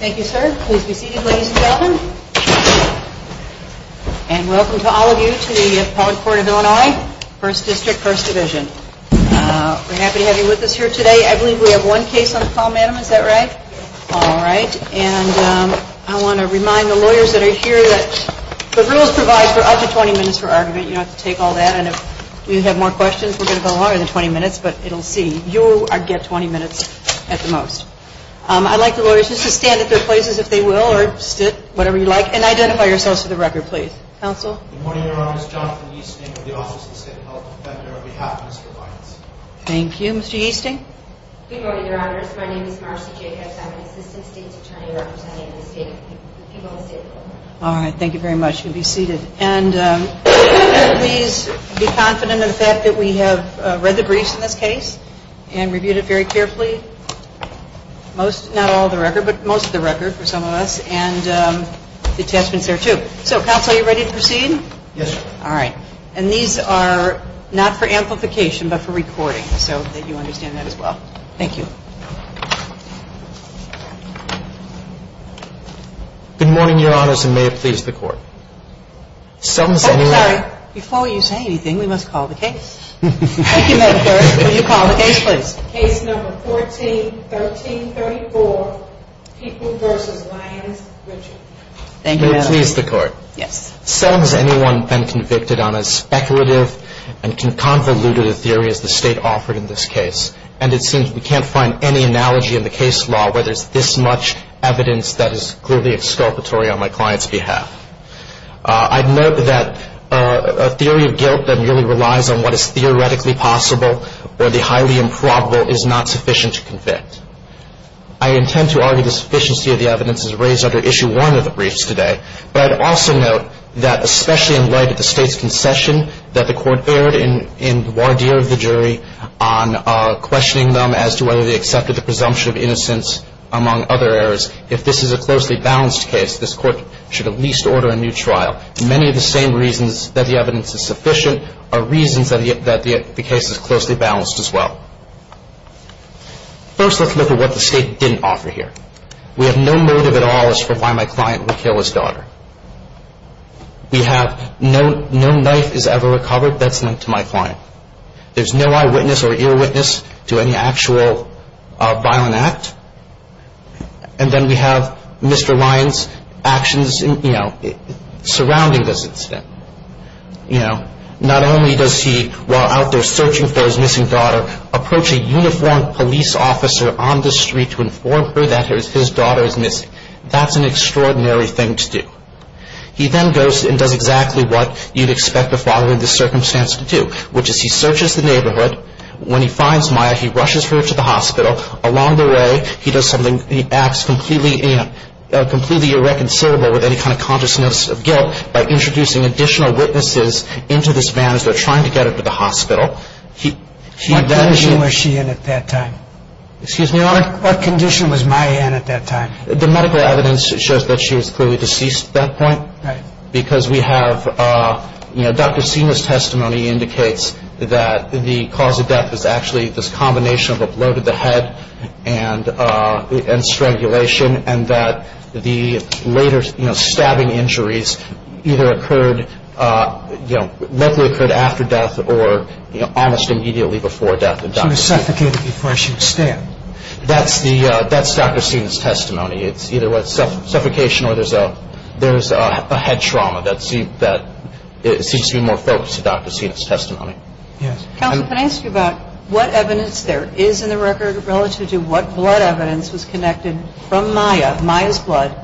Thank you sir. Please be seated ladies and gentlemen. And welcome to all of you to the Appellate Court of Illinois, 1st District, 1st Division. We're happy to have you with us here today. I believe we have one case on the call madam, is that right? Alright. And I want to remind the lawyers that are here that the rules provide for up to 20 minutes for argument. You don't have to take all that. And if you have more questions, we're going to go longer than 20 minutes, but it'll see. You get 20 minutes at the most. I'd like the lawyers just to stand at their places if they will, or sit, whatever you like. And identify yourselves for the record please. Counsel. Good morning Your Honor. It's Jonathan Easting of the Office of the State Health Defender on behalf of Mr. Lyons. Thank you. Mr. Easting. Good morning Your Honor. My name is Marcy Jacobs. I'm an Assistant State Attorney representing the people of the state of Illinois. Alright. Thank you very much. You'll be seated. And please be confident in the fact that we have read the briefs in this case and reviewed it very carefully. Most, not all the record, but most of the record for some of us. And the attachments there too. So counsel, are you ready to proceed? Yes sir. Alright. And these are not for amplification, but for recording, so that you understand that as well. Thank you. Good morning Your Honors, and may it please the Court. Oh, sorry. Before you say anything, we must call the case. Thank you, Madam Clerk. Will you call the case please? Case number 14-13-34, People v. Lyons, Richard. Thank you, Madam Clerk. May it please the Court. Yes. So has anyone been convicted on as speculative and convoluted a theory as the State offered in this case? And it seems we can't find any analogy in the case law where there's this much evidence that is clearly exculpatory on my client's behalf. I'd note that a theory of guilt that merely relies on what is theoretically possible or the highly improbable is not sufficient to convict. I intend to argue the sufficiency of the evidence is raised under Issue 1 of the Code. I'd also note that especially in light of the State's concession that the Court erred in the voir dire of the jury on questioning them as to whether they accepted the presumption of innocence among other errors. If this is a closely balanced case, this Court should at least order a new trial. Many of the same reasons that the evidence is sufficient are reasons that the case is closely balanced as well. First, let's look at what the State didn't offer here. We have no motive at all for why my client would kill his daughter. We have no knife is ever recovered that's linked to my client. There's no eyewitness or earwitness to any actual violent act. And then we have Mr. Ryan's actions surrounding this incident. Not only does he, while out there searching for his missing daughter, approach a uniformed police officer on the street to inform her that his daughter is missing, he does exactly what you'd expect a father in this circumstance to do, which is he searches the neighborhood. When he finds Maya, he rushes her to the hospital. Along the way, he does something, he acts completely irreconcilable with any kind of consciousness of guilt by introducing additional witnesses into this van as they're trying to get her to the hospital. What condition was she in at that time? Excuse me, Your Honor? What condition was Maya in at that time? The medical evidence shows that she was clearly deceased at that point. Right. Because we have, you know, Dr. Sina's testimony indicates that the cause of death was actually this combination of a blow to the head and strangulation and that the later, you know, stabbing injuries either occurred, you know, likely occurred after death or almost immediately before death. She was suffocated before she could stand. That's Dr. Sina's testimony. It's either suffocation or there's a head trauma that seems to be more focused to Dr. Sina's testimony. Counsel, can I ask you about what evidence there is in the record relative to what blood evidence was connected from Maya, Maya's blood,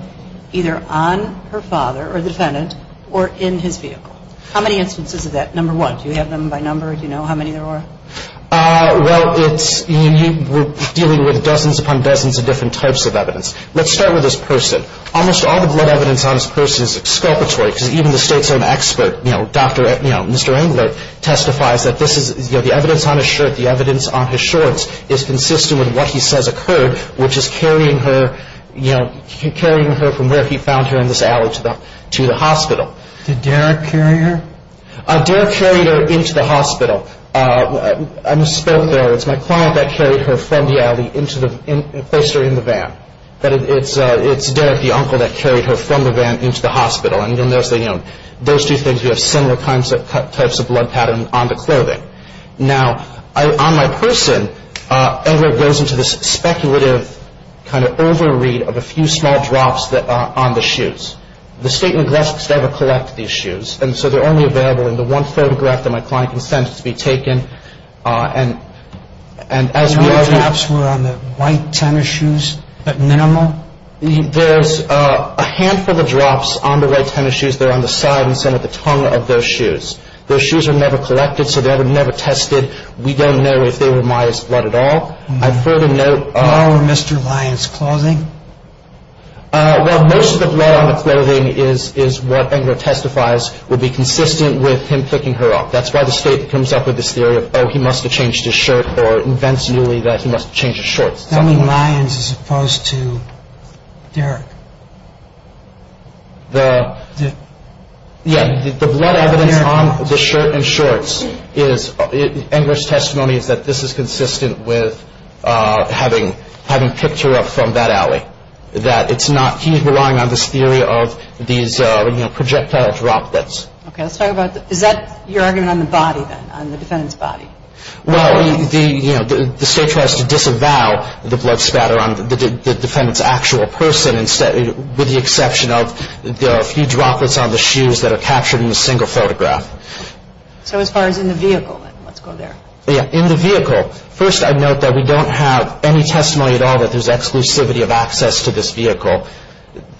either on her father or the defendant or in his vehicle? How many instances of that, number one? Do you have them by number? Do you know how many there are? Well, it's, you know, we're dealing with dozens upon dozens of different types of evidence. Let's start with this person. Almost all the blood evidence on this person is exculpatory because even the state's own expert, you know, Dr., you know, Mr. Engler, testifies that this is, you know, the evidence on his shirt, the evidence on his shorts is consistent with what he says occurred, which is carrying her, you know, carrying her from where he found her in this alley to the hospital. Did Derek carry her? Derek carried her into the hospital. I misspoke there. It's my client that carried her from the alley and placed her in the van. But it's Derek, the uncle, that carried her from the van into the hospital. And, you know, those two things, we have similar types of blood patterns on the clothing. Now, on my person, Engler goes into this speculative kind of over-read of a few small drops on the shoes. The state neglects to ever collect these shoes. And so they're only available in the one photograph that my client can send to be taken. And as we are going to… The few drops were on the white tennis shoes at minimal? There's a handful of drops on the white tennis shoes. They're on the side and center of the tongue of those shoes. Those shoes were never collected, so they were never tested. We don't know if they were Maya's blood at all. I'd further note… No Mr. Lyon's clothing? Well, most of the blood on the clothing is what Engler testifies would be consistent with him picking her up. That's why the state comes up with this theory of, oh, he must have changed his shirt, or invents newly that he must have changed his shorts. That means Lyon's as opposed to Derek. Yeah, the blood evidence on the shirt and shorts is… consistent with having picked her up from that alley. He's relying on this theory of these projectile droplets. Okay, let's talk about… Is that your argument on the body then, on the defendant's body? Well, the state tries to disavow the blood spatter on the defendant's actual person with the exception of a few droplets on the shoes that are captured in a single photograph. So as far as in the vehicle, let's go there. Yeah, in the vehicle. First, I'd note that we don't have any testimony at all that there's exclusivity of access to this vehicle.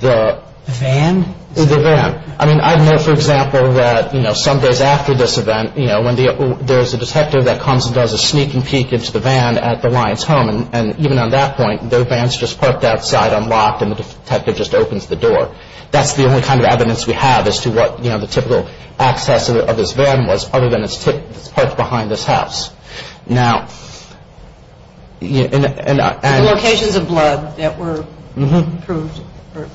The… The van? The van. I mean, I'd note, for example, that some days after this event, when there's a detective that comes and does a sneak and peek into the van at the Lyon's home, and even on that point, their van's just parked outside, unlocked, and the detective just opens the door. That's the only kind of evidence we have as to what the typical access of this van was other than it's parked behind this house. Now, and… The locations of blood that were proved or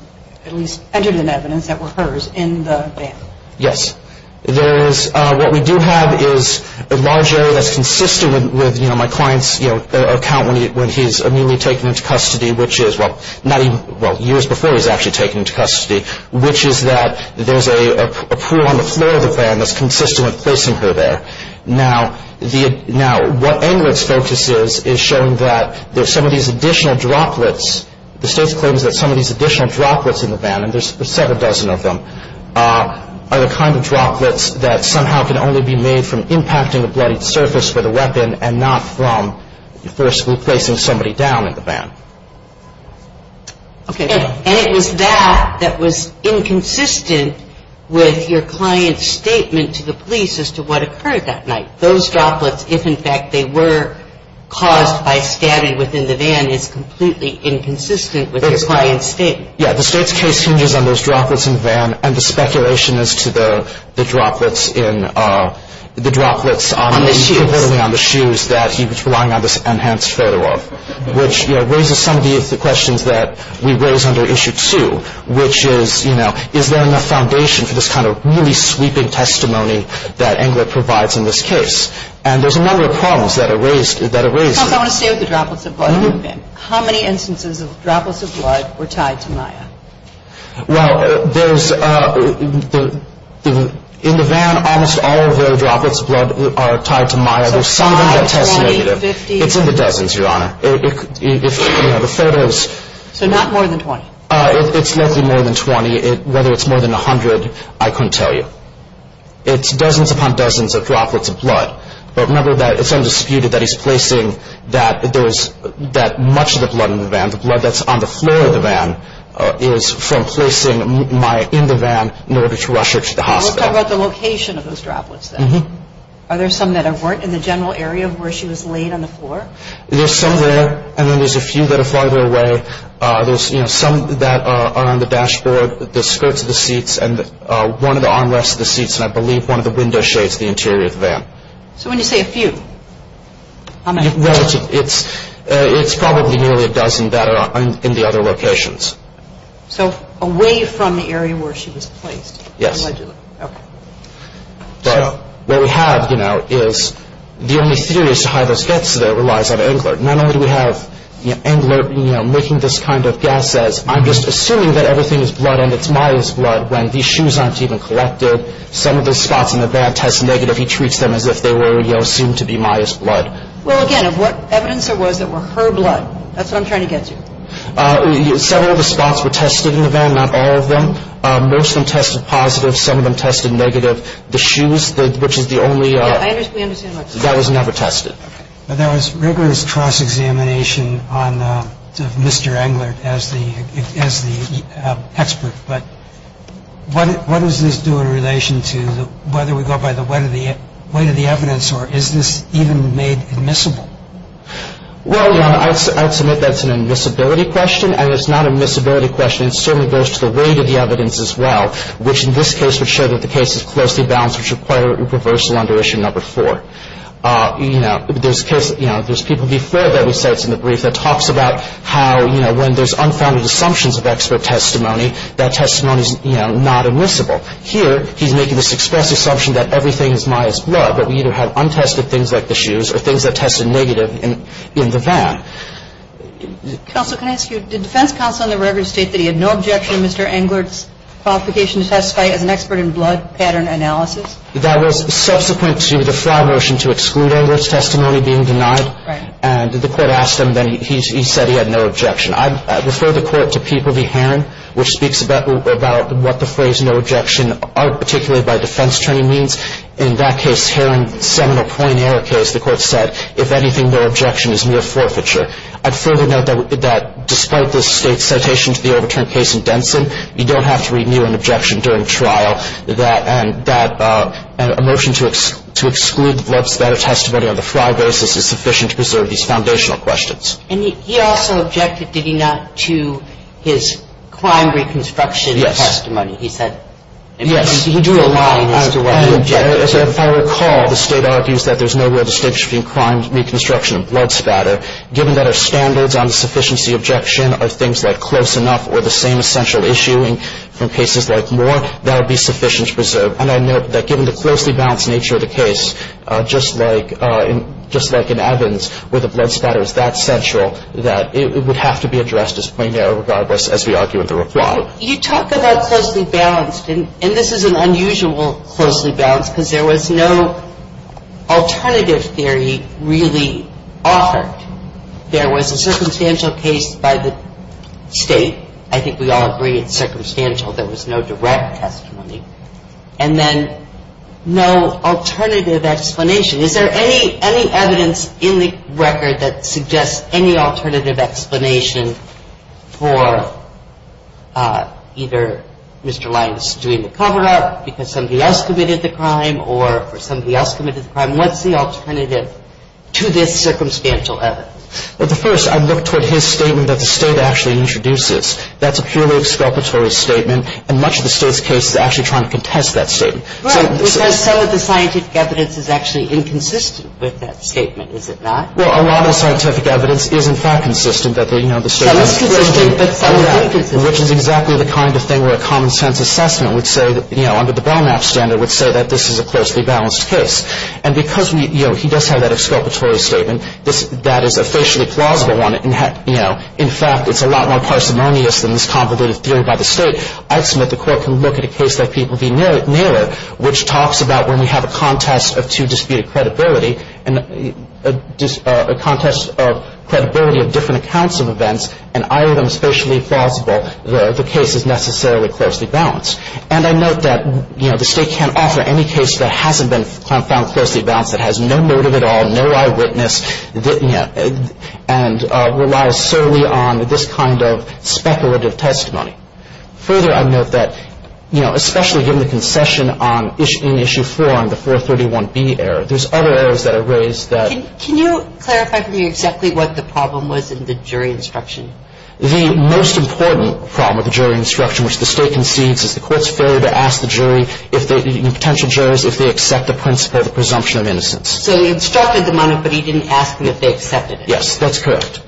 at least entered in evidence that were hers in the van. Yes. There is… What we do have is a large area that's consistent with, you know, my client's, you know, account when he's immediately taken into custody, which is, well, not even… well, years before he's actually taken into custody, which is that there's a pool on the floor of the van that's consistent with placing her there. Now, the… Now, what Englert's focus is is showing that there's some of these additional droplets. The state claims that some of these additional droplets in the van, and there's seven dozen of them, are the kind of droplets that somehow can only be made from impacting a bloodied surface with a weapon and not from, first, replacing somebody down in the van. Okay. And it was that that was inconsistent with your client's statement to the police as to what occurred that night. Those droplets, if in fact they were caused by stabbing within the van, is completely inconsistent with your client's statement. Yeah. The state's case hinges on those droplets in the van and the speculation as to the droplets in… the droplets on… On the shoes. …on the shoes that he was relying on this enhanced photo of, which, you know, raises some of the questions that we raise under Issue 2, which is, you know, is there enough foundation for this kind of really sweeping testimony that Englert provides in this case? And there's a number of problems that are raised… Tom, I want to stay with the droplets of blood in the van. Mm-hmm. How many instances of droplets of blood were tied to Maya? Well, there's… In the van, almost all of the droplets of blood are tied to Maya. So five, 20, 50… It's in the dozens, Your Honor. If, you know, the photos… So not more than 20. It's likely more than 20. Whether it's more than 100, I couldn't tell you. It's dozens upon dozens of droplets of blood. But remember that it's undisputed that he's placing that there was… that much of the blood in the van, the blood that's on the floor of the van, is from placing Maya in the van in order to rush her to the hospital. Let's talk about the location of those droplets then. Mm-hmm. Are there some that weren't in the general area of where she was laid on the floor? There's some there, and then there's a few that are farther away. There's, you know, some that are on the dashboard, the skirts of the seats, and one of the armrests of the seats, and I believe one of the window shades of the interior of the van. So when you say a few, how many? Well, it's probably nearly a dozen that are in the other locations. So away from the area where she was placed. Yes. Okay. What we have, you know, is the only theory as to how those get there relies on Englert. Not only do we have Englert, you know, making this kind of guess as, I'm just assuming that everything is blood and it's Maya's blood, when these shoes aren't even collected. Some of the spots in the van test negative. He treats them as if they were, you know, assumed to be Maya's blood. Well, again, of what evidence there was that were her blood. That's what I'm trying to get to. Several of the spots were tested in the van, not all of them. Most of them tested positive. Some of them tested negative. The shoes, which is the only one that was never tested. There was rigorous cross-examination on Mr. Englert as the expert. But what does this do in relation to whether we go by the weight of the evidence or is this even made admissible? Well, I'll submit that's an admissibility question, and it's not an admissibility question. It certainly goes to the weight of the evidence as well, which in this case would show that the case is closely balanced, which would require a reversal under issue number four. You know, there's people before that, we said it's in the brief, that talks about how, you know, when there's unfounded assumptions of expert testimony, that testimony is, you know, not admissible. Here he's making this express assumption that everything is Maya's blood, but we either have untested things like the shoes or things that tested negative in the van. Counsel, can I ask you, did defense counsel on the record state that he had no objection to Mr. Englert's qualification to testify as an expert in blood pattern analysis? That was subsequent to the FRA motion to exclude Englert's testimony being denied. Right. And the Court asked him, then he said he had no objection. I refer the Court to P. Povey Herron, which speaks about what the phrase no objection articulated by defense attorney means. In that case, Herron's seminal point error case, the Court said, if anything, no objection is mere forfeiture. I'd further note that despite the State's citation to the overturn case in Denson, you don't have to renew an objection during trial, and that a motion to exclude the blood spatter testimony on the FRA basis is sufficient to preserve these foundational questions. And he also objected, did he not, to his crime reconstruction testimony? Yes. He said. Yes. He drew a line as to what he objected to. If I recall, the State argues that there's no real distinction between crime reconstruction and blood spatter, given that our standards on the sufficiency objection are things like close enough or the same essential issuing from cases like Moore, that would be sufficient to preserve. And I note that given the closely balanced nature of the case, just like in Evans, where the blood spatter is that central, that it would have to be addressed as point error regardless as we argue in the reply. You talk about closely balanced, and this is an unusual closely balanced, because there was no alternative theory really offered. There was a circumstantial case by the State. I think we all agree it's circumstantial. There was no direct testimony. And then no alternative explanation. Is there any evidence in the record that suggests any alternative explanation for either Mr. Lyons doing the cover-up because somebody else committed the crime or for somebody else committed the crime? What's the alternative to this circumstantial evidence? Well, the first, I look toward his statement that the State actually introduces. That's a purely exculpatory statement. And much of the State's case is actually trying to contest that statement. Right. Because some of the scientific evidence is actually inconsistent with that statement, is it not? Well, a lot of the scientific evidence is, in fact, consistent. So it's consistent. Which is exactly the kind of thing where a common-sense assessment would say, you know, under the Bonappe standard, would say that this is a closely balanced case. And because he does have that exculpatory statement, that is officially plausible on it. In fact, it's a lot more parsimonious than this convoluted theory by the State. I'd submit the Court can look at a case like P.V. Naylor, which talks about when we have a contest of two disputed credibility and a contest of credibility of different accounts of events, and either of them is facially plausible, the case is necessarily closely balanced. And I note that, you know, the State can't offer any case that hasn't been found closely balanced, that has no motive at all, no eyewitness, and relies solely on this kind of speculative testimony. Further, I note that, you know, especially given the concession in Issue 4 on the 431B error, there's other errors that are raised that... Can you clarify for me exactly what the problem was in the jury instruction? The most important problem with the jury instruction, which the State concedes, is the Court's failure to ask the jury if they, the potential jurors, if they accept the principle of the presumption of innocence. So they instructed the monitor, but he didn't ask them if they accepted it. Yes, that's correct.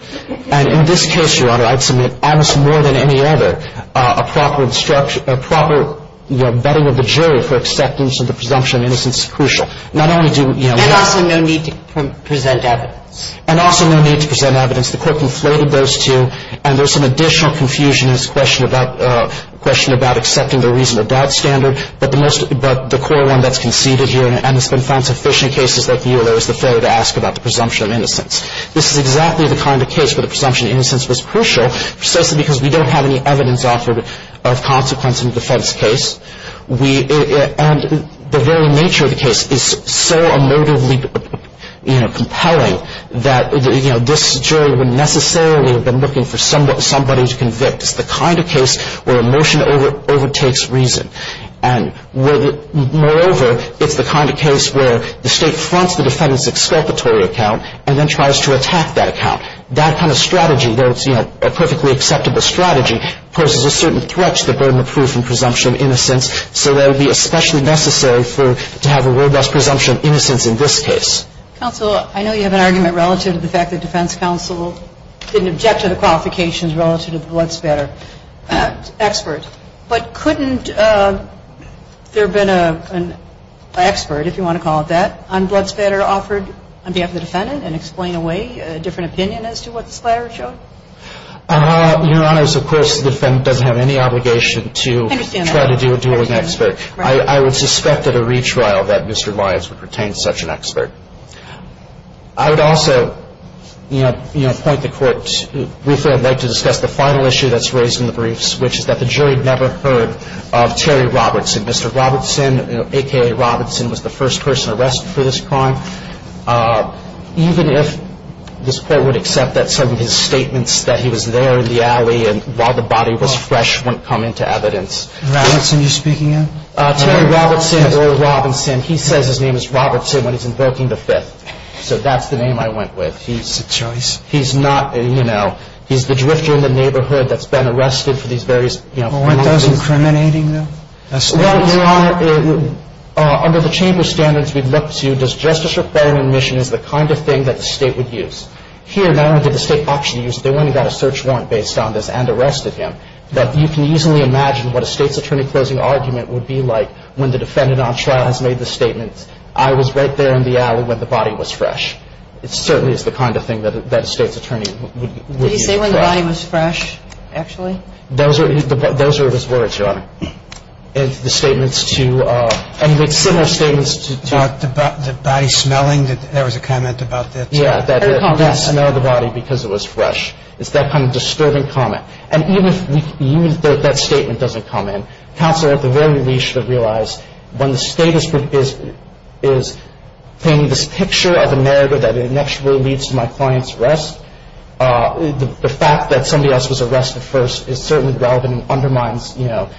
And in this case, Your Honor, I'd submit, I would say more than any other, a proper instruction, a proper, you know, vetting of the jury for acceptance of the presumption of innocence is crucial. Not only do, you know... And also no need to present evidence. And also no need to present evidence. The Court conflated those two, and there's some additional confusion in this question about, question about accepting the reasonable doubt standard, but the most, but the core one that's conceded here, and it's been found sufficient in cases like the EULA, is the failure to ask about the presumption of innocence. This is exactly the kind of case where the presumption of innocence was crucial, precisely because we don't have any evidence offered of consequence in the defense case. And the very nature of the case is so emotively, you know, compelling, that, you know, this jury wouldn't necessarily have been looking for somebody to convict. It's the kind of case where emotion overtakes reason. And moreover, it's the kind of case where the State fronts the defendant's exculpatory account and then tries to attack that account. That kind of strategy, though it's, you know, a perfectly acceptable strategy, poses a certain threat to the burden of proof and presumption of innocence, so that would be especially necessary for, to have a robust presumption of innocence in this case. Counsel, I know you have an argument relative to the fact that defense counsel didn't object to the qualifications relative to the blood spatter expert, but couldn't there have been an expert, if you want to call it that, on blood spatter offered on behalf of the defendant and explain away a different opinion as to what the splatter showed? Your Honor, of course, the defendant doesn't have any obligation to try to do a dueling expert. I would suspect at a retrial that Mr. Lyons would retain such an expert. I would also, you know, point the Court briefly, I'd like to discuss the final issue that's raised in the briefs, which is that the jury never heard of Terry Robertson. Mr. Robertson, a.k.a. Robertson, was the first person arrested for this crime. Even if this Court would accept that some of his statements, that he was there in the alley and while the body was fresh, wouldn't come into evidence. Robertson, you're speaking of? Terry Robertson, Earl Robinson. He says his name is Robertson when he's invoking the fifth, so that's the name I went with. He's a choice. He's not, you know, he's the drifter in the neighborhood that's been arrested for these various crimes. Well, weren't those incriminating, though? Well, Your Honor, under the chamber standards we've looked to, does justice reform and admission is the kind of thing that the State would use. Here, not only did the State optionally use it, they went and got a search warrant based on this and arrested him. But you can easily imagine what a State's attorney closing argument would be like when the defendant on trial has made the statement, I was right there in the alley when the body was fresh. It certainly is the kind of thing that a State's attorney would use. Did he say when the body was fresh, actually? Those were his words, Your Honor. And the statements to, and he made similar statements to... The body smelling, there was a comment about that. Yeah, that he didn't smell the body because it was fresh. It's that kind of disturbing comment. And even if that statement doesn't come in, counsel at the very least should realize when the State is painting this picture of a murder that it actually leads to my client's arrest, the fact that somebody else was arrested first is certainly relevant and undermines the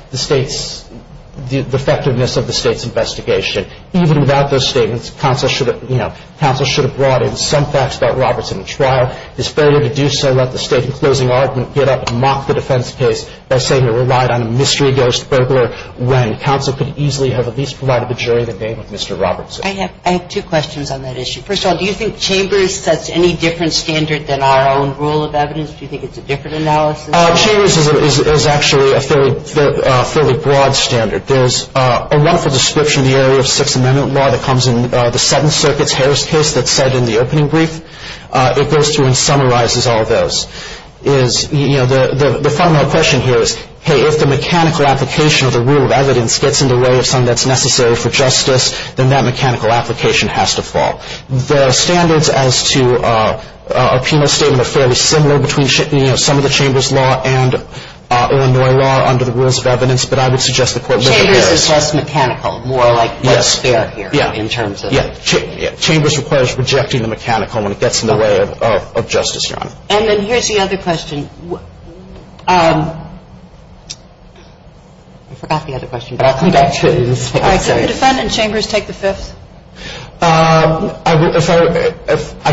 effectiveness of the State's investigation. Even without those statements, counsel should have brought in some facts about Robertson at trial. His failure to do so let the State, in closing argument, get up and mock the defense case by saying it relied on a mystery ghost burglar when counsel could easily have at least provided the jury the name of Mr. Robertson. I have two questions on that issue. First of all, do you think Chambers sets any different standard than our own rule of evidence? Do you think it's a different analysis? Chambers is actually a fairly broad standard. There's a wonderful description in the area of Sixth Amendment law that comes in the Seventh Circuit's Harris case that's set in the opening brief. It goes through and summarizes all of those. The fundamental question here is, hey, if the mechanical application of the rule of evidence gets in the way of something that's necessary for justice, then that mechanical application has to fall. The standards as to a penal statement are fairly similar between, you know, some of the Chambers law and Illinois law under the rules of evidence, but I would suggest the Court would look at Harris. Chambers is less mechanical, more like less fair here in terms of. Yeah. Yeah. Chambers requires rejecting the mechanical when it gets in the way of justice, Your Honor. And then here's the other question. I forgot the other question, but I'll come back to it. All right. Can the defendant, Chambers, take the fifth? I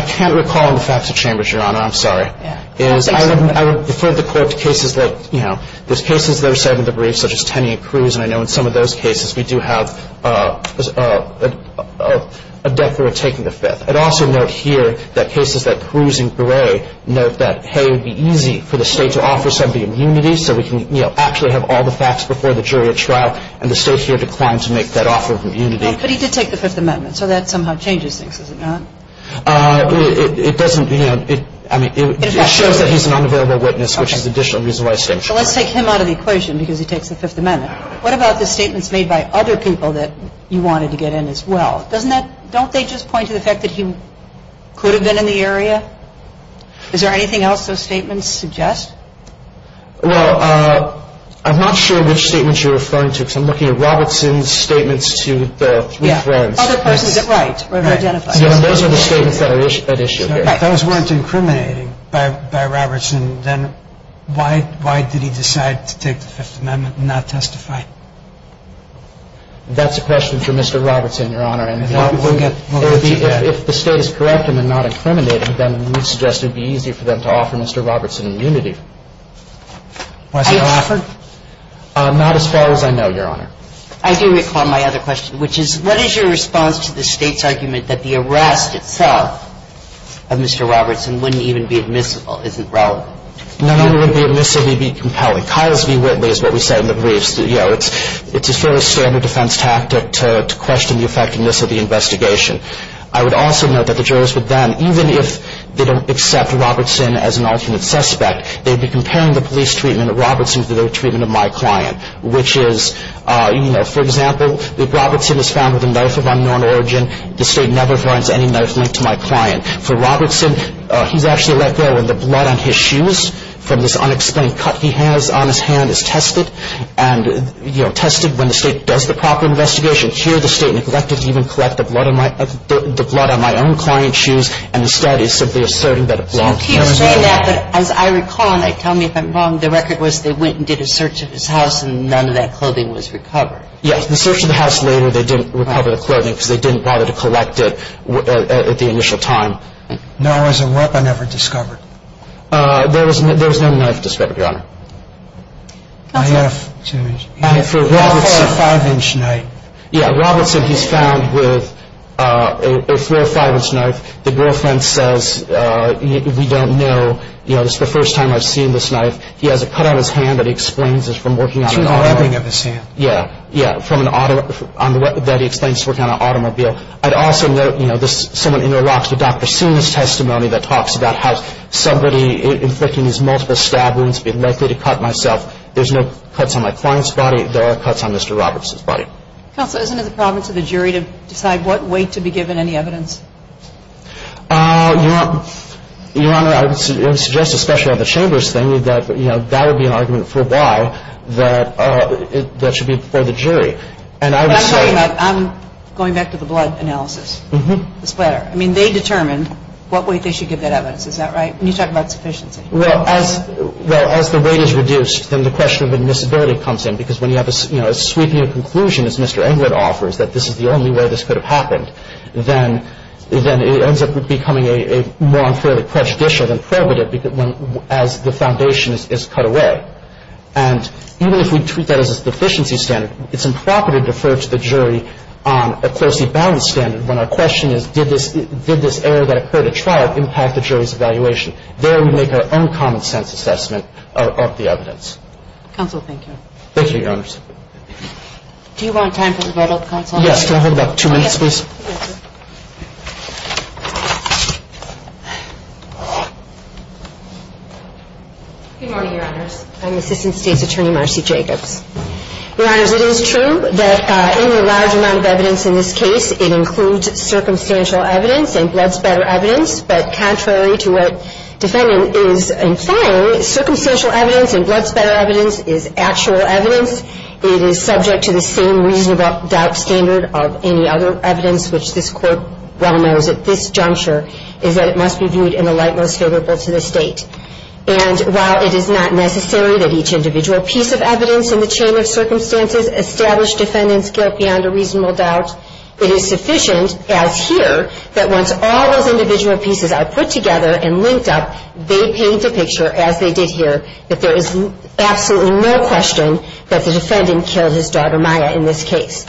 can't recall on the facts of Chambers, Your Honor. I'm sorry. Yeah. I would refer the Court to cases that, you know, there's cases that are set in the brief such as Tenney and Cruz, and I know in some of those cases we do have a declarer taking the fifth. I'd also note here that cases like Cruz and Gray note that, hey, it would be easy for the State to offer somebody immunity so we can, you know, actually have all the facts before the jury at trial, and the State here declined to make that offer of immunity. But he did take the Fifth Amendment, so that somehow changes things, does it not? It doesn't, you know, I mean, it shows that he's an unavailable witness, which is additional reason why it's taken. So let's take him out of the equation because he takes the Fifth Amendment. What about the statements made by other people that you wanted to get in as well? Doesn't that – don't they just point to the fact that he could have been in the area? Is there anything else those statements suggest? Well, I'm not sure which statements you're referring to because I'm looking at Robertson's statements to the three friends. Yeah. Other persons at right were identified. Those are the statements that are at issue here. If those weren't incriminating by Robertson, then why did he decide to take the Fifth Amendment and not testify? That's a question for Mr. Robertson, Your Honor. And if the State is correct in the not incriminating, then we suggest it would be easier for them to offer Mr. Robertson immunity. Was he offered? Not as far as I know, Your Honor. I do recall my other question, which is what is your response to the State's argument that the arrest itself of Mr. Robertson wouldn't even be admissible? Isn't relevant? None of it would be admissible. It would be compelling. Kyle's v. Whitley is what we say in the briefs. You know, it's a fairly standard defense tactic to question the effectiveness of the investigation. I would also note that the jurors would then, even if they don't accept Robertson as an alternate suspect, they'd be comparing the police treatment of Robertson to the treatment of my client, which is, you know, for example, if Robertson is found with a knife of unknown origin, the State never finds any knife linked to my client. For Robertson, he's actually let go, and the blood on his shoes from this unexplained cut he has on his hand is tested, and, you know, tested when the State does the proper investigation. Here the State neglected to even collect the blood on my own client's shoes, and instead is simply asserting that it belongs to me. So he was doing that, but as I recall, and tell me if I'm wrong, the record was they went and did a search of his house, and none of that clothing was recovered. Yes. The search of the house later, they didn't recover the clothing because they didn't bother to collect it at the initial time. No. As a rep, I never discovered. There was no knife discovered, Your Honor. I have. I have a four or five-inch knife. Yeah. Robertson, he's found with a four or five-inch knife. The girlfriend says, we don't know. You know, this is the first time I've seen this knife. He has a cut on his hand that he explains is from working on an automobile. Through the rubbing of his hand. Yeah. Yeah, from an automobile, that he explains is working on an automobile. I'd also note, you know, someone interlocks with Dr. Sina's testimony that talks about how somebody inflicting these multiple stab wounds would be likely to cut myself. There's no cuts on my client's body. There are cuts on Mr. Robertson's body. Counsel, isn't it the problem to the jury to decide what weight to be given any evidence? Your Honor, I would suggest, especially on the Chambers thing, that, you know, that would be an argument for why that should be before the jury. And I would say – I'm talking about – I'm going back to the blood analysis. Mm-hmm. The splatter. I mean, they determined what weight they should give that evidence. Is that right? When you talk about sufficiency. Well, as the weight is reduced, then the question of admissibility comes in. Because when you have a sweeping conclusion, as Mr. Englert offers, that this is the only way this could have happened, then it ends up becoming a more unfairly prejudicial than prohibitive as the foundation is cut away. And even if we treat that as a deficiency standard, it's improper to defer to the jury on a closely balanced standard when our question is did this error that occurred at trial impact the jury's evaluation. There we make our own common-sense assessment of the evidence. Counsel, thank you. Thank you, Your Honors. Do you want time for the vote, Counsel? Yes. Counsel, I'll hold back two minutes, please. Yes. Good morning, Your Honors. I'm Assistant State's Attorney Marcy Jacobs. Your Honors, it is true that in the large amount of evidence in this case, it includes circumstantial evidence and blood splatter evidence. But contrary to what defendant is implying, circumstantial evidence and blood splatter evidence is actual evidence. It is subject to the same reasonable doubt standard of any other evidence, which this Court well knows at this juncture, is that it must be viewed in the light most favorable to the State. And while it is not necessary that each individual piece of evidence in the chain of circumstances establish defendant's guilt beyond a reasonable doubt, it is sufficient, as here, that once all those individual pieces are put together and linked up, they paint a picture, as they did here, that there is absolutely no question that the defendant killed his daughter, Maya, in this case.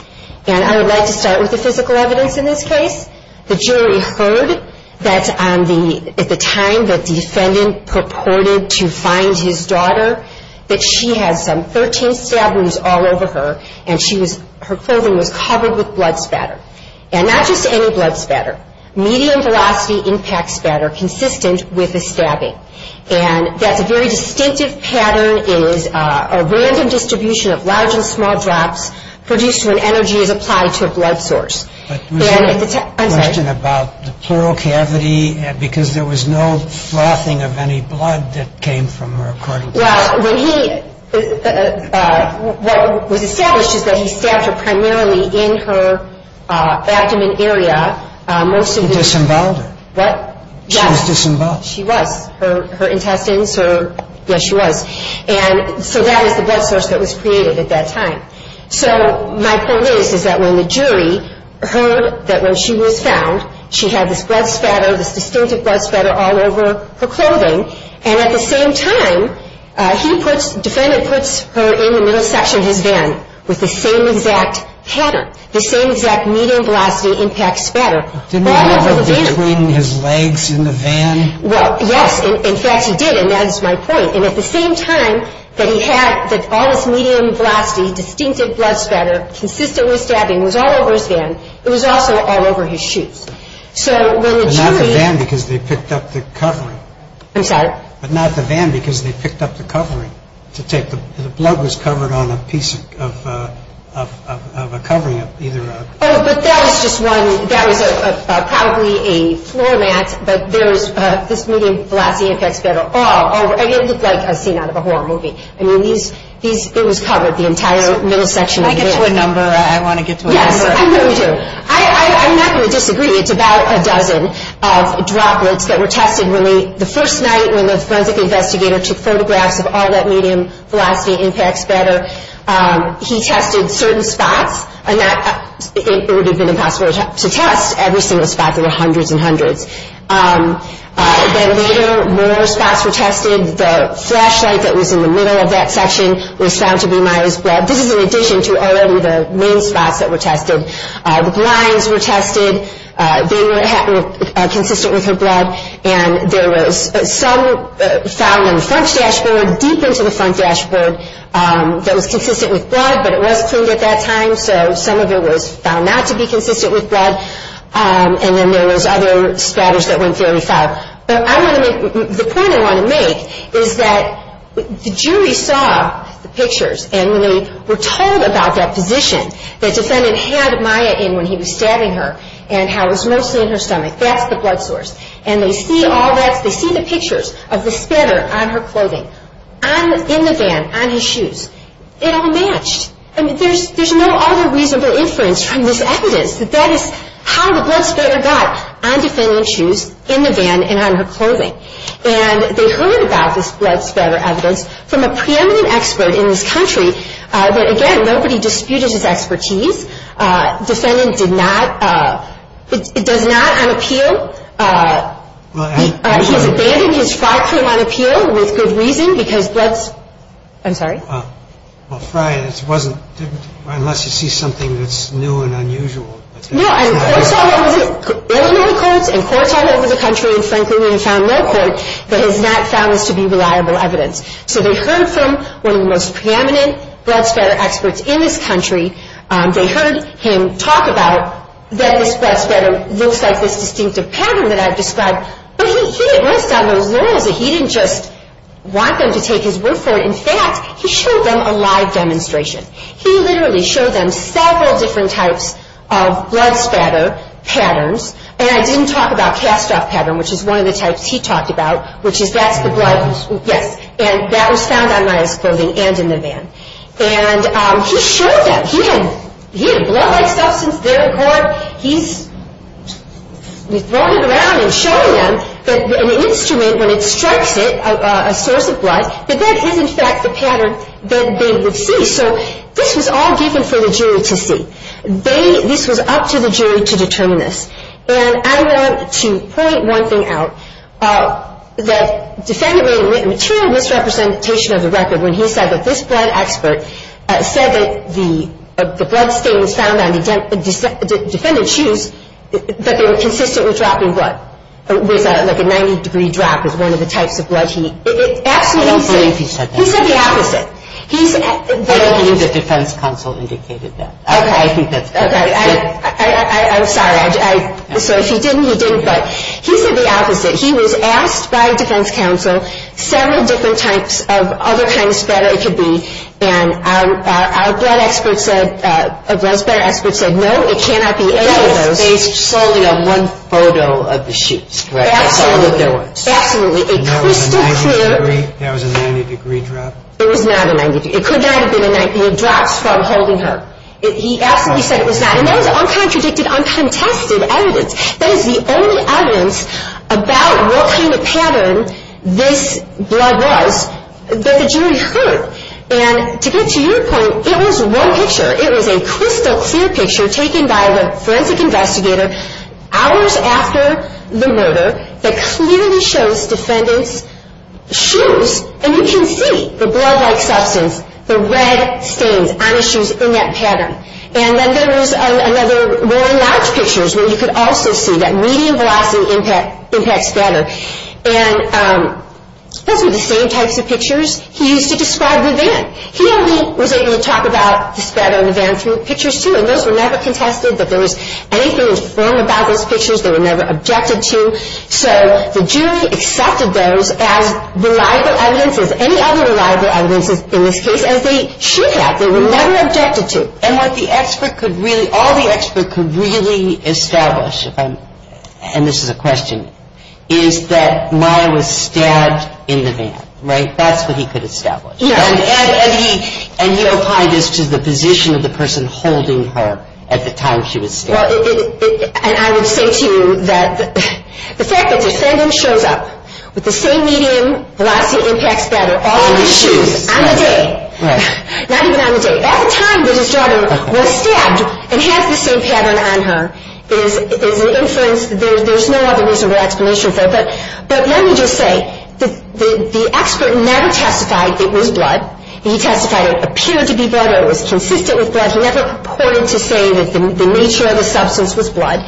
And I would like to start with the physical evidence in this case. The jury heard that at the time that the defendant purported to find his daughter, that she had some 13 stab wounds all over her, and her clothing was covered with blood splatter. And not just any blood splatter. Medium-velocity impact splatter consistent with a stabbing. And that's a very distinctive pattern. It is a random distribution of large and small drops produced when energy is applied to a blood source. But there was a question about the pleural cavity, because there was no flossing of any blood that came from her carotid. Well, when he – what was established is that he stabbed her primarily in her abdomen area. He disemboweled her. What? Yes. She was disemboweled. She was. Her intestines, her – yes, she was. And so that is the blood source that was created at that time. So my point is, is that when the jury heard that when she was found, she had this blood splatter, this distinctive blood splatter all over her clothing, and at the same time, he puts – the defendant puts her in the middle section of his van with the same exact pattern, the same exact medium-velocity impact splatter. Didn't he have it between his legs in the van? Well, yes. In fact, he did, and that is my point. And at the same time that he had all this medium-velocity distinctive blood splatter consistently stabbing, it was all over his van. It was also all over his shoes. So when the jury – But not the van, because they picked up the covering. I'm sorry? But not the van, because they picked up the covering to take the – the blood was covered on a piece of a covering of either a – Oh, but that was just one – that was probably a floor mat, but there was this medium-velocity impact splatter all over – and it looked like a scene out of a horror movie. I mean, these – it was covered, the entire middle section of the van. Can I get to a number? I want to get to a number. Yes, I know you do. I'm not going to disagree. It's about a dozen of droplets that were tested when they – the first night when the forensic investigator took photographs of all that medium-velocity impact splatter, he tested certain spots, and that – it would have been impossible to test every single spot. There were hundreds and hundreds. Then later, more spots were tested. The flashlight that was in the middle of that section was found to be Maya's blood. This is in addition to already the main spots that were tested. The blinds were tested. They were consistent with her blood, and there was some found in the front dashboard, deep into the front dashboard, that was consistent with blood, but it was cleaned at that time, so some of it was found not to be consistent with blood, and then there was other splatters that weren't very foul. But I want to make – the point I want to make is that the jury saw the pictures, and when they were told about that position, the defendant had Maya in when he was stabbing her, and how it was mostly in her stomach. That's the blood source. And they see all that – they see the pictures of the splatter on her clothing, in the van, on his shoes. It all matched. I mean, there's no other reasonable inference from this evidence that that is how the blood splatter got on defendant's shoes, in the van, and on her clothing. And they heard about this blood splatter evidence from a preeminent expert in this country, but again, nobody disputed his expertise. Defendant did not – does not unappeal. He's abandoned his fraud claim unappeal with good reason because blood's – I'm sorry? Well, Friar, it wasn't – unless you see something that's new and unusual. No, and courts all over the – Illinois courts and courts all over the country, and frankly, we have found no court that has not found this to be reliable evidence. So they heard from one of the most preeminent blood splatter experts in this country. They heard him talk about that this blood splatter looks like this distinctive pattern that I've described, but he didn't rest on those laurels. He didn't just want them to take his word for it. In fact, he showed them a live demonstration. He literally showed them several different types of blood splatter patterns, and I didn't talk about cast-off pattern, which is one of the types he talked about, which is that's the blood – yes, and that was found on Maya's clothing and in the van. And he showed them. He had a blood-like substance there in court. He's throwing it around and showing them that an instrument, when it strikes it, a source of blood, that that is, in fact, the pattern that they would see. So this was all given for the jury to see. They – this was up to the jury to determine this. And I want to point one thing out, that defendant made a material misrepresentation of the record when he said that this blood expert said that the blood stain was found on the defendant's shoes, that they were consistently dropping blood. It was like a 90-degree drop was one of the types of blood he – absolutely. I don't believe he said that. He said the opposite. I don't believe the defense counsel indicated that. Okay. I think that's correct. Okay. I'm sorry. So if he didn't, he didn't, but he said the opposite. He was asked by defense counsel several different types of other kinds of spatter it could be, and our blood expert said – our blood spatter expert said, no, it cannot be any of those. It was based solely on one photo of the shoes, right? Absolutely. That's all that there was. Absolutely. A crystal clear – That was a 90-degree drop? It was not a 90-degree – it could not have been a 90 – it drops from holding her. He absolutely said it was not. And that was uncontradicted, uncontested evidence. That is the only evidence about what kind of pattern this blood was that the jury heard. And to get to your point, it was one picture. It was a crystal clear picture taken by the forensic investigator hours after the murder that clearly shows defendants' shoes, and you can see the blood-like substance, the red stains on his shoes in that pattern. And then there was another – more large pictures where you could also see that medium-velocity impact spatter. And those were the same types of pictures he used to describe the van. He only was able to talk about the spatter in the van through pictures, too, and those were never contested, that there was anything informed about those pictures, they were never objected to. So the jury accepted those as reliable evidence, as any other reliable evidence in this case, as they should have. They were never objected to. And what the expert could really – all the expert could really establish, and this is a question, is that Maya was stabbed in the van, right? That's what he could establish. Yes. And he applied this to the position of the person holding her at the time she was stabbed. And I would say to you that the fact that defendant shows up with the same medium-velocity impact spatter on the day, not even on the day, at the time that his daughter was stabbed and has the same pattern on her is an inference. There's no other reasonable explanation for it. But let me just say, the expert never testified it was blood. He testified it appeared to be blood or it was consistent with blood. He never purported to say that the nature of the substance was blood.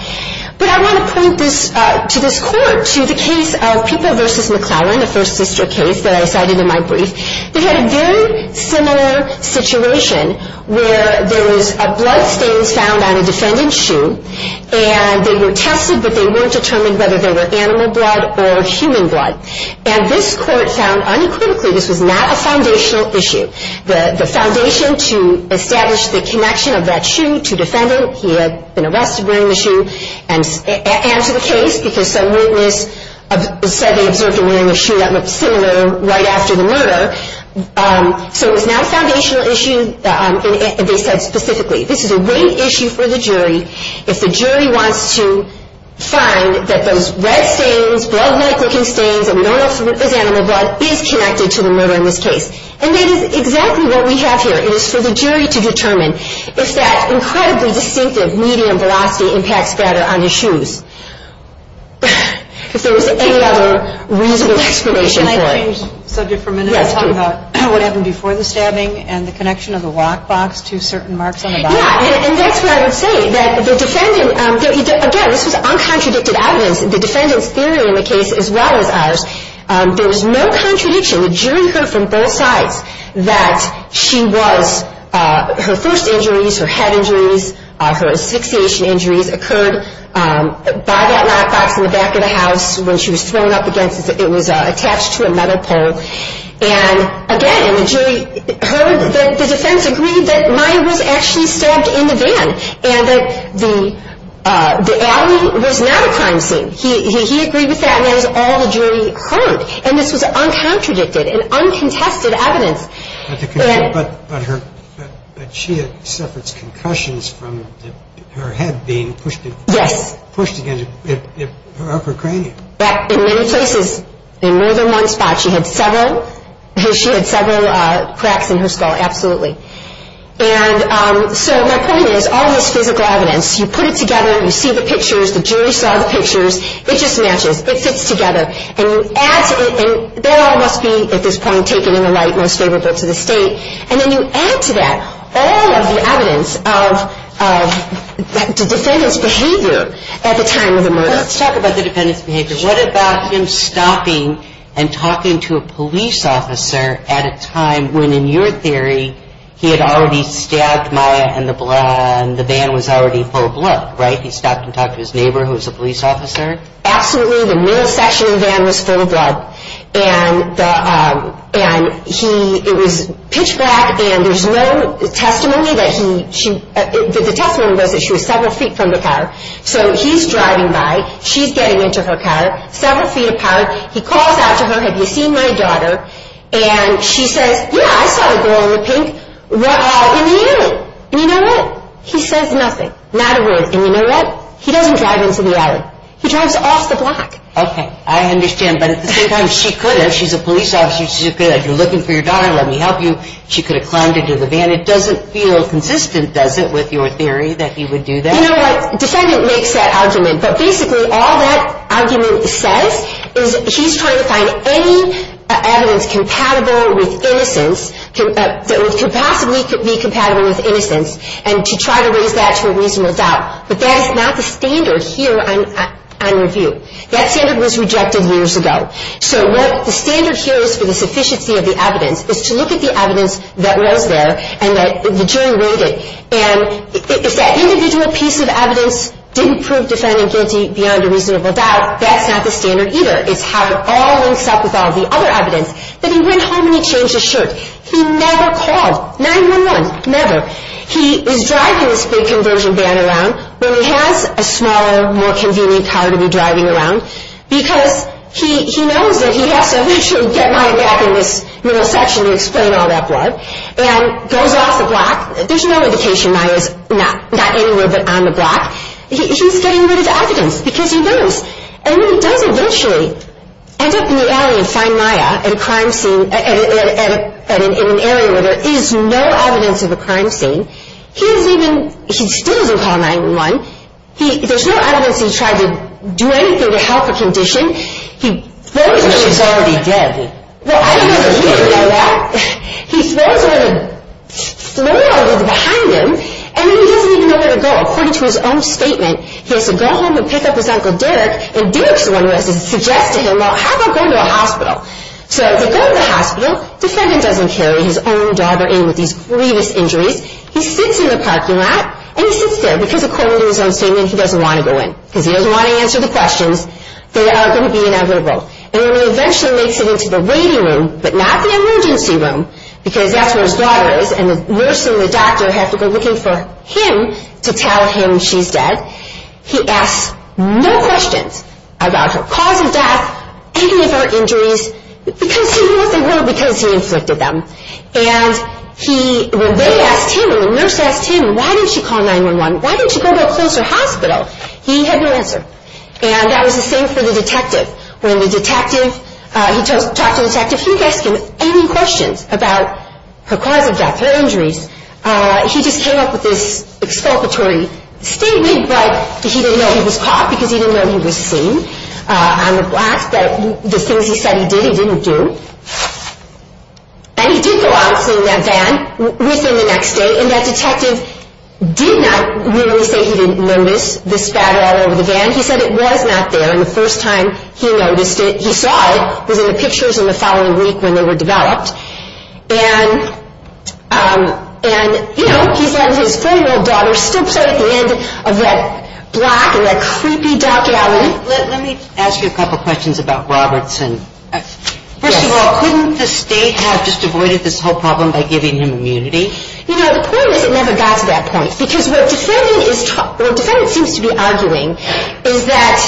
But I want to point this to this court, to the case of Pippo v. McLaurin, the first sister case that I cited in my brief. They had a very similar situation where there was a bloodstain found on a defendant's shoe, and they were tested, but they weren't determined whether they were animal blood or human blood. And this court found uncritically this was not a foundational issue. The foundation to establish the connection of that shoe to defendant, he had been arrested wearing the shoe, and to the case, because some witness said they observed him wearing a shoe that looked similar right after the murder. So it was not a foundational issue, and they said specifically, this is a great issue for the jury if the jury wants to find that those red stains, blood-like looking stains, and we don't know if it was animal blood, is connected to the murder in this case. And that is exactly what we have here. It is for the jury to determine if that incredibly distinctive medium velocity impacts better on his shoes. If there was any other reasonable explanation for it. Can I change the subject for a minute and talk about what happened before the stabbing and the connection of the lockbox to certain marks on the body? Yeah, and that's what I would say. Again, this was uncontradicted evidence. The defendant's theory in the case, as well as ours, there was no contradiction. The jury heard from both sides that she was, her first injuries, her head injuries, her asphyxiation injuries occurred by that lockbox in the back of the house when she was thrown up against it. It was attached to a metal pole. And again, the jury heard that the defense agreed that Maya was actually stabbed in the van and that the alley was not a crime scene. He agreed with that, and that is all the jury heard. And this was uncontradicted and uncontested evidence. But she had suffered concussions from her head being pushed against her upper cranium. In many places, in more than one spot. She had several cracks in her skull, absolutely. And so my point is, all this physical evidence, you put it together, you see the pictures, the jury saw the pictures, it just matches, it fits together. And there must be, at this point, taken in the light most favorable to the state. And then you add to that all of the evidence of the defendant's behavior at the time of the murder. Let's talk about the defendant's behavior. What about him stopping and talking to a police officer at a time when, in your theory, he had already stabbed Maya and the van was already full of blood, right? He stopped and talked to his neighbor who was a police officer? Absolutely, the middle section of the van was full of blood. And he, it was pitch black, and there's no testimony that he, the testimony was that she was several feet from the car. So he's driving by, she's getting into her car, several feet apart. He calls out to her, have you seen my daughter? And she says, yeah, I saw the girl in the pink in the alley. And you know what? He says nothing, not a word. And you know what? He doesn't drive into the alley. He drives off the block. Okay, I understand. But at the same time, she could have. She's a police officer. She could have said, you're looking for your daughter, let me help you. She could have climbed into the van. It doesn't feel consistent, does it, with your theory that he would do that? You know what, the defendant makes that argument. But basically all that argument says is he's trying to find any evidence compatible with innocence, that could possibly be compatible with innocence, and to try to raise that to a reasonable doubt. But that is not the standard here on review. That standard was rejected years ago. So what the standard here is for the sufficiency of the evidence is to look at the evidence that was there and that the jury rated. And if that individual piece of evidence didn't prove defendant guilty beyond a reasonable doubt, that's not the standard either. It's how it all links up with all the other evidence. But he went home and he changed his shirt. He never called, 911, never. He is driving this big conversion van around when he has a smaller, more convenient car to be driving around because he knows that he has to get Maya back in this middle section to explain all that blood, and goes off the block. There's no indication Maya's not anywhere but on the block. He's getting rid of the evidence because he knows. And when he does eventually end up in the alley and find Maya in a crime scene, in an area where there is no evidence of a crime scene, he still doesn't call 911. There's no evidence he tried to do anything to help her condition. He throws her. She's already dead. Well, I don't know that he would know that. He throws her in the floor behind him, and then he doesn't even know where to go. According to his own statement, he has to go home and pick up his Uncle Derek, and Derek's the one who has to suggest to him, well, how about going to a hospital? So they go to the hospital. The defendant doesn't carry his own daughter in with these grievous injuries. He sits in the parking lot, and he sits there. Because according to his own statement, he doesn't want to go in because he doesn't want to answer the questions that are going to be inevitable. And when he eventually makes it into the waiting room, but not the emergency room because that's where his daughter is, and the nurse and the doctor have to go looking for him to tell him she's dead, he asks no questions about her cause of death, about any of her injuries, because he knew what they were because he inflicted them. And when they asked him, when the nurse asked him, why didn't you call 911, why didn't you go to a closer hospital, he had no answer. And that was the same for the detective. When the detective, he talked to the detective, he didn't ask him any questions about her cause of death, her injuries. He just came up with this exculpatory statement, but he didn't know he was caught because he didn't know he was seen on the block. But the things he said he did, he didn't do. And he did go out in that van within the next day, and that detective did not really say he didn't notice the spatter all over the van. He said it was not there, and the first time he noticed it, he saw it, was in the pictures in the following week when they were developed. And, you know, he's letting his four-year-old daughter still play at the end of that block in that creepy dark alley. Let me ask you a couple questions about Robertson. First of all, couldn't the state have just avoided this whole problem by giving him immunity? You know, the point is it never got to that point, because what defendant seems to be arguing is that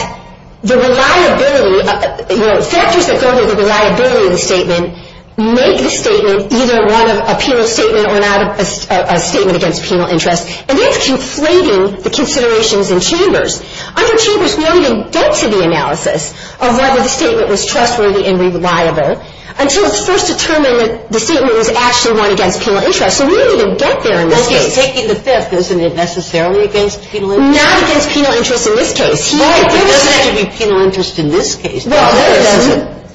the reliability, you know, factors that go to the reliability of the statement make the statement either one of a penal statement or not a statement against penal interest, and that's conflating the considerations in Chambers. Under Chambers, we don't even get to the analysis of whether the statement was trustworthy and reliable until it's first determined that the statement was actually one against penal interest. So we don't even get there in this case. Okay, taking the fifth, isn't it necessarily against penal interest? Not against penal interest in this case. Right, there doesn't have to be penal interest in this case.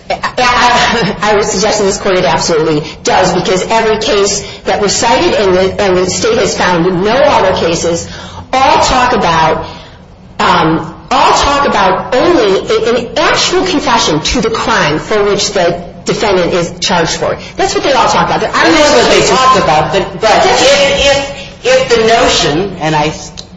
I would suggest in this court it absolutely does, because every case that was cited and the state has found with no other cases all talk about only an actual confession to the crime for which the defendant is charged for. That's what they all talk about. That's what they talk about, but if the notion, and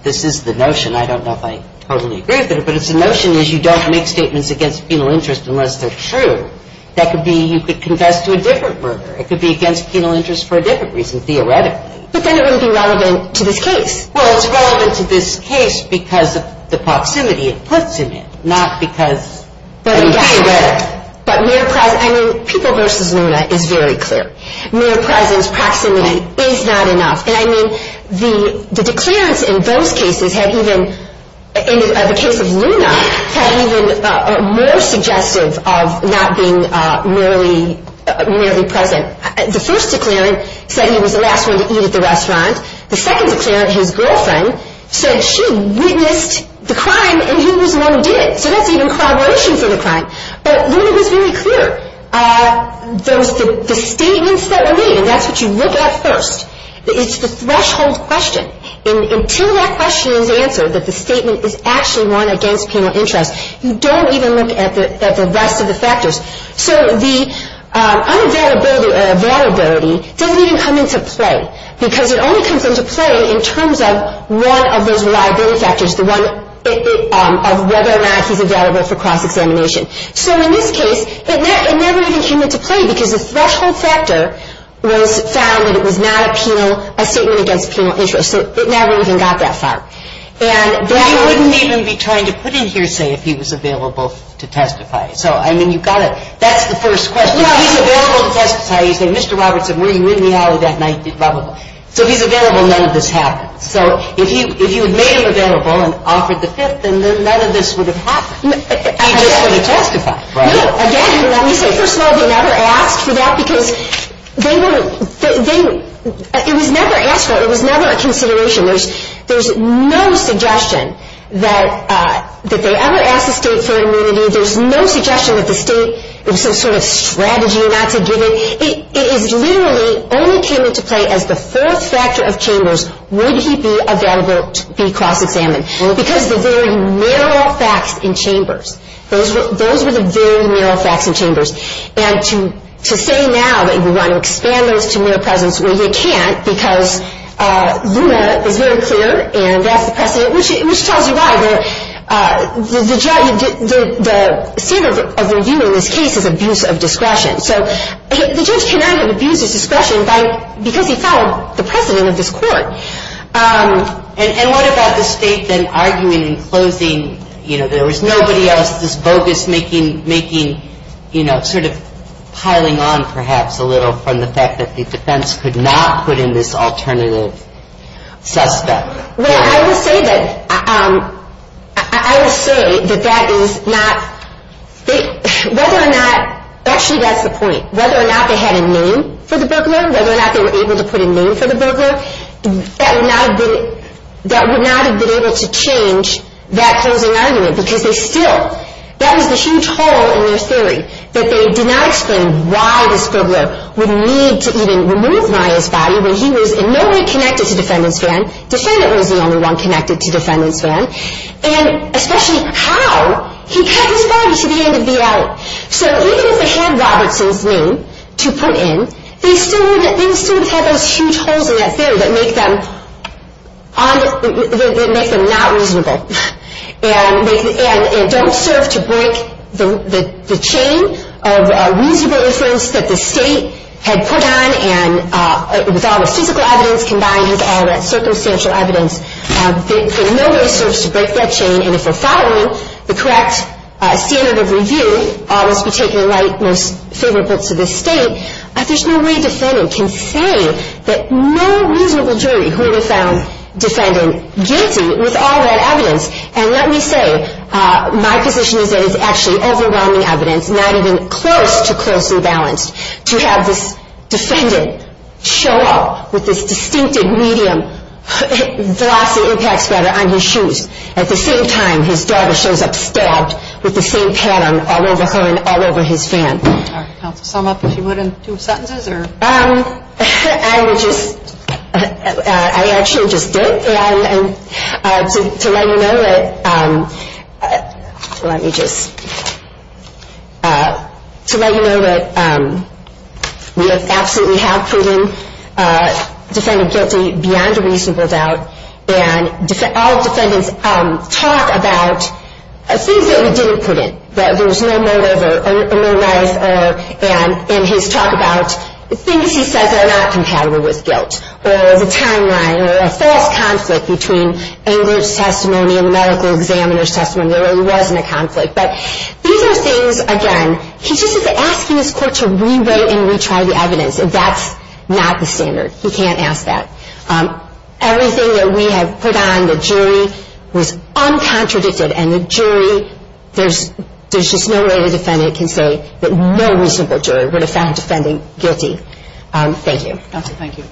this is the notion, and I don't know if I totally agree with it, but it's the notion is you don't make statements against penal interest unless they're true. That could be you could confess to a different murder. It could be against penal interest for a different reason, theoretically. But then it wouldn't be relevant to this case. Well, it's relevant to this case because of the proximity it puts him in, not because of the theoretic. But Mayor Preysen, I mean, People v. Luna is very clear. Mayor Preysen's proximity is not enough. And, I mean, the declarants in those cases have even, in the case of Luna, have even more suggestive of not being merely present. The first declarant said he was the last one to eat at the restaurant. The second declarant, his girlfriend, said she witnessed the crime and he was the one who did it. So that's even corroboration for the crime. But Luna was very clear. The statements that were made, and that's what you look at first. It's the threshold question. Until that question is answered, that the statement is actually one against penal interest, you don't even look at the rest of the factors. So the unavailability doesn't even come into play because it only comes into play in terms of one of those reliability factors, the one of whether or not he's available for cross-examination. So in this case, it never even came into play because the threshold factor was found that it was not a penal, a statement against penal interest. So it never even got that far. But you wouldn't even be trying to put in here, say, if he was available to testify. So, I mean, you've got to, that's the first question. He's available to testify. You say, Mr. Robertson, were you in the aisle that night? So if he's available, none of this happens. So if you had made him available and offered the fifth, then none of this would have happened. He just wouldn't testify. No, again, let me say, first of all, they never asked for that because they weren't, it was never asked for, it was never a consideration. There's no suggestion that they ever asked the state for immunity. There's no suggestion that the state, it was some sort of strategy not to give it. It literally only came into play as the fourth factor of Chambers, would he be available to be cross-examined. Because of the very narrow facts in Chambers. Those were the very narrow facts in Chambers. And to say now that you want to expand those to mere presence, well, you can't, because Zuma is very clear, and that's the precedent, which tells you why. The standard of review in this case is abuse of discretion. So the judge cannot abuse his discretion because he followed the precedent of this court. And what about the state then arguing in closing, you know, there was nobody else this bogus making, you know, sort of piling on perhaps a little from the fact that the defense could not put in this alternative suspect. Well, I will say that, I will say that that is not, whether or not, actually that's the point, whether or not they had a name for the burglar, whether or not they were able to put a name for the burglar, that would not have been able to change that closing argument. Because they still, that was the huge hole in their theory, that they did not explain why this burglar would need to even remove Maya's body when he was in no way connected to defendant's van. Defendant was the only one connected to defendant's van. And especially how he cut his body to the end of the alley. So even if they had Robertson's name to put in, they still would have had those huge holes in that theory that make them not reasonable. And don't serve to break the chain of reasonable inference that the state had put on and with all the physical evidence combined with all that circumstantial evidence, in no way serves to break that chain. And if we're following the correct standard of review, almost particularly like most favorite books of this state, there's no way defendant can say that no reasonable jury would have found defendant guilty with all that evidence. And let me say, my position is that it's actually overwhelming evidence, not even close to closely balanced, to have this defendant show up with this distinctive medium glossy impact spreader on his shoes at the same time his daughter shows up stabbed with the same pattern all over her and all over his van. All right. Counsel, sum up if you would in two sentences or? I would just, I actually just did. And to let you know that, let me just, to let you know that we absolutely have proven defendant guilty beyond a reasonable doubt. And all defendants talk about things that we didn't put in. That there was no motive or no life and his talk about the things he says are not compatible with guilt or the timeline or a false conflict between English testimony and the medical examiner's testimony. There really wasn't a conflict. But these are things, again, he's just asking his court to rewrite and retry the evidence. That's not the standard. He can't ask that. Everything that we have put on the jury was uncontradicted. And the jury, there's just no way the defendant can say that no reasonable jury would have found defendant guilty. Thank you. Counsel, thank you.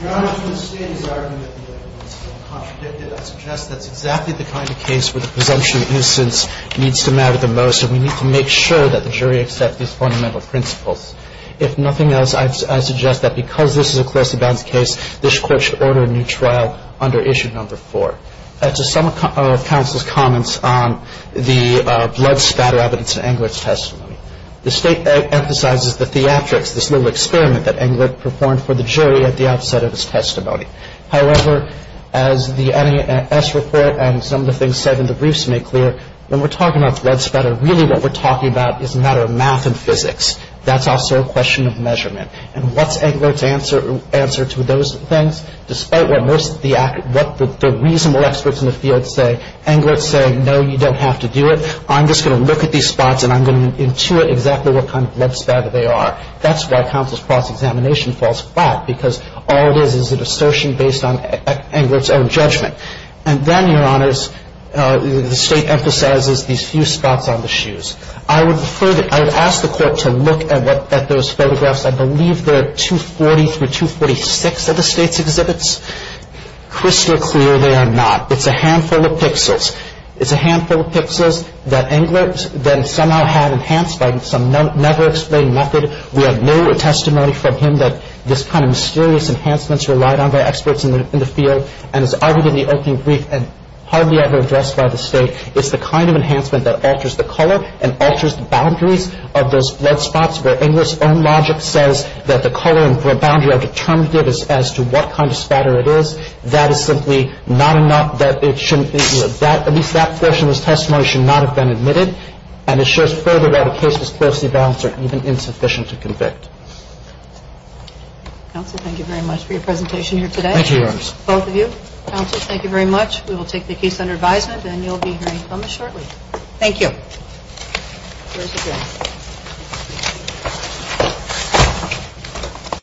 Your Honor, to the state's argument that the evidence is uncontradicted, I suggest that's exactly the kind of case where the presumption of nuisance needs to matter the most and we need to make sure that the jury accepts these fundamental principles. If nothing else, I suggest that because this is a close and balanced case, this court should order a new trial under issue number four. To some of counsel's comments on the blood spatter evidence in Englert's testimony. The state emphasizes the theatrics, this little experiment that Englert performed for the jury at the outset of his testimony. However, as the NAS report and some of the things said in the briefs make clear, when we're talking about blood spatter, really what we're talking about is a matter of math and physics. That's also a question of measurement. And what's Englert's answer to those things? Despite what most of the reasonable experts in the field say, Englert's saying, no, you don't have to do it. I'm just going to look at these spots and I'm going to intuit exactly what kind of blood spatter they are. That's why counsel's cross-examination falls flat, because all it is is an assertion based on Englert's own judgment. And then, Your Honors, the state emphasizes these few spots on the shoes. I would ask the court to look at those photographs. I believe they're 240 through 246 of the state's exhibits. Crystal clear, they are not. It's a handful of pixels. It's a handful of pixels that Englert then somehow had enhanced by some never-explained method. We have no testimony from him that this kind of mysterious enhancements relied on by experts in the field. And it's arguably the only brief hardly ever addressed by the state. It's the kind of enhancement that alters the color and alters the boundaries of those blood spots where Englert's own logic says that the color and blood boundary are determinative as to what kind of spatter it is. That is simply not enough that it shouldn't be. At least that portion of his testimony should not have been admitted. And it shows further that a case was closely balanced or even insufficient to convict. Counsel, thank you very much for your presentation here today. Thank you, Your Honors. Both of you. Counsel, thank you very much. We will take the case under advisement and you'll be hearing from us shortly. Thank you.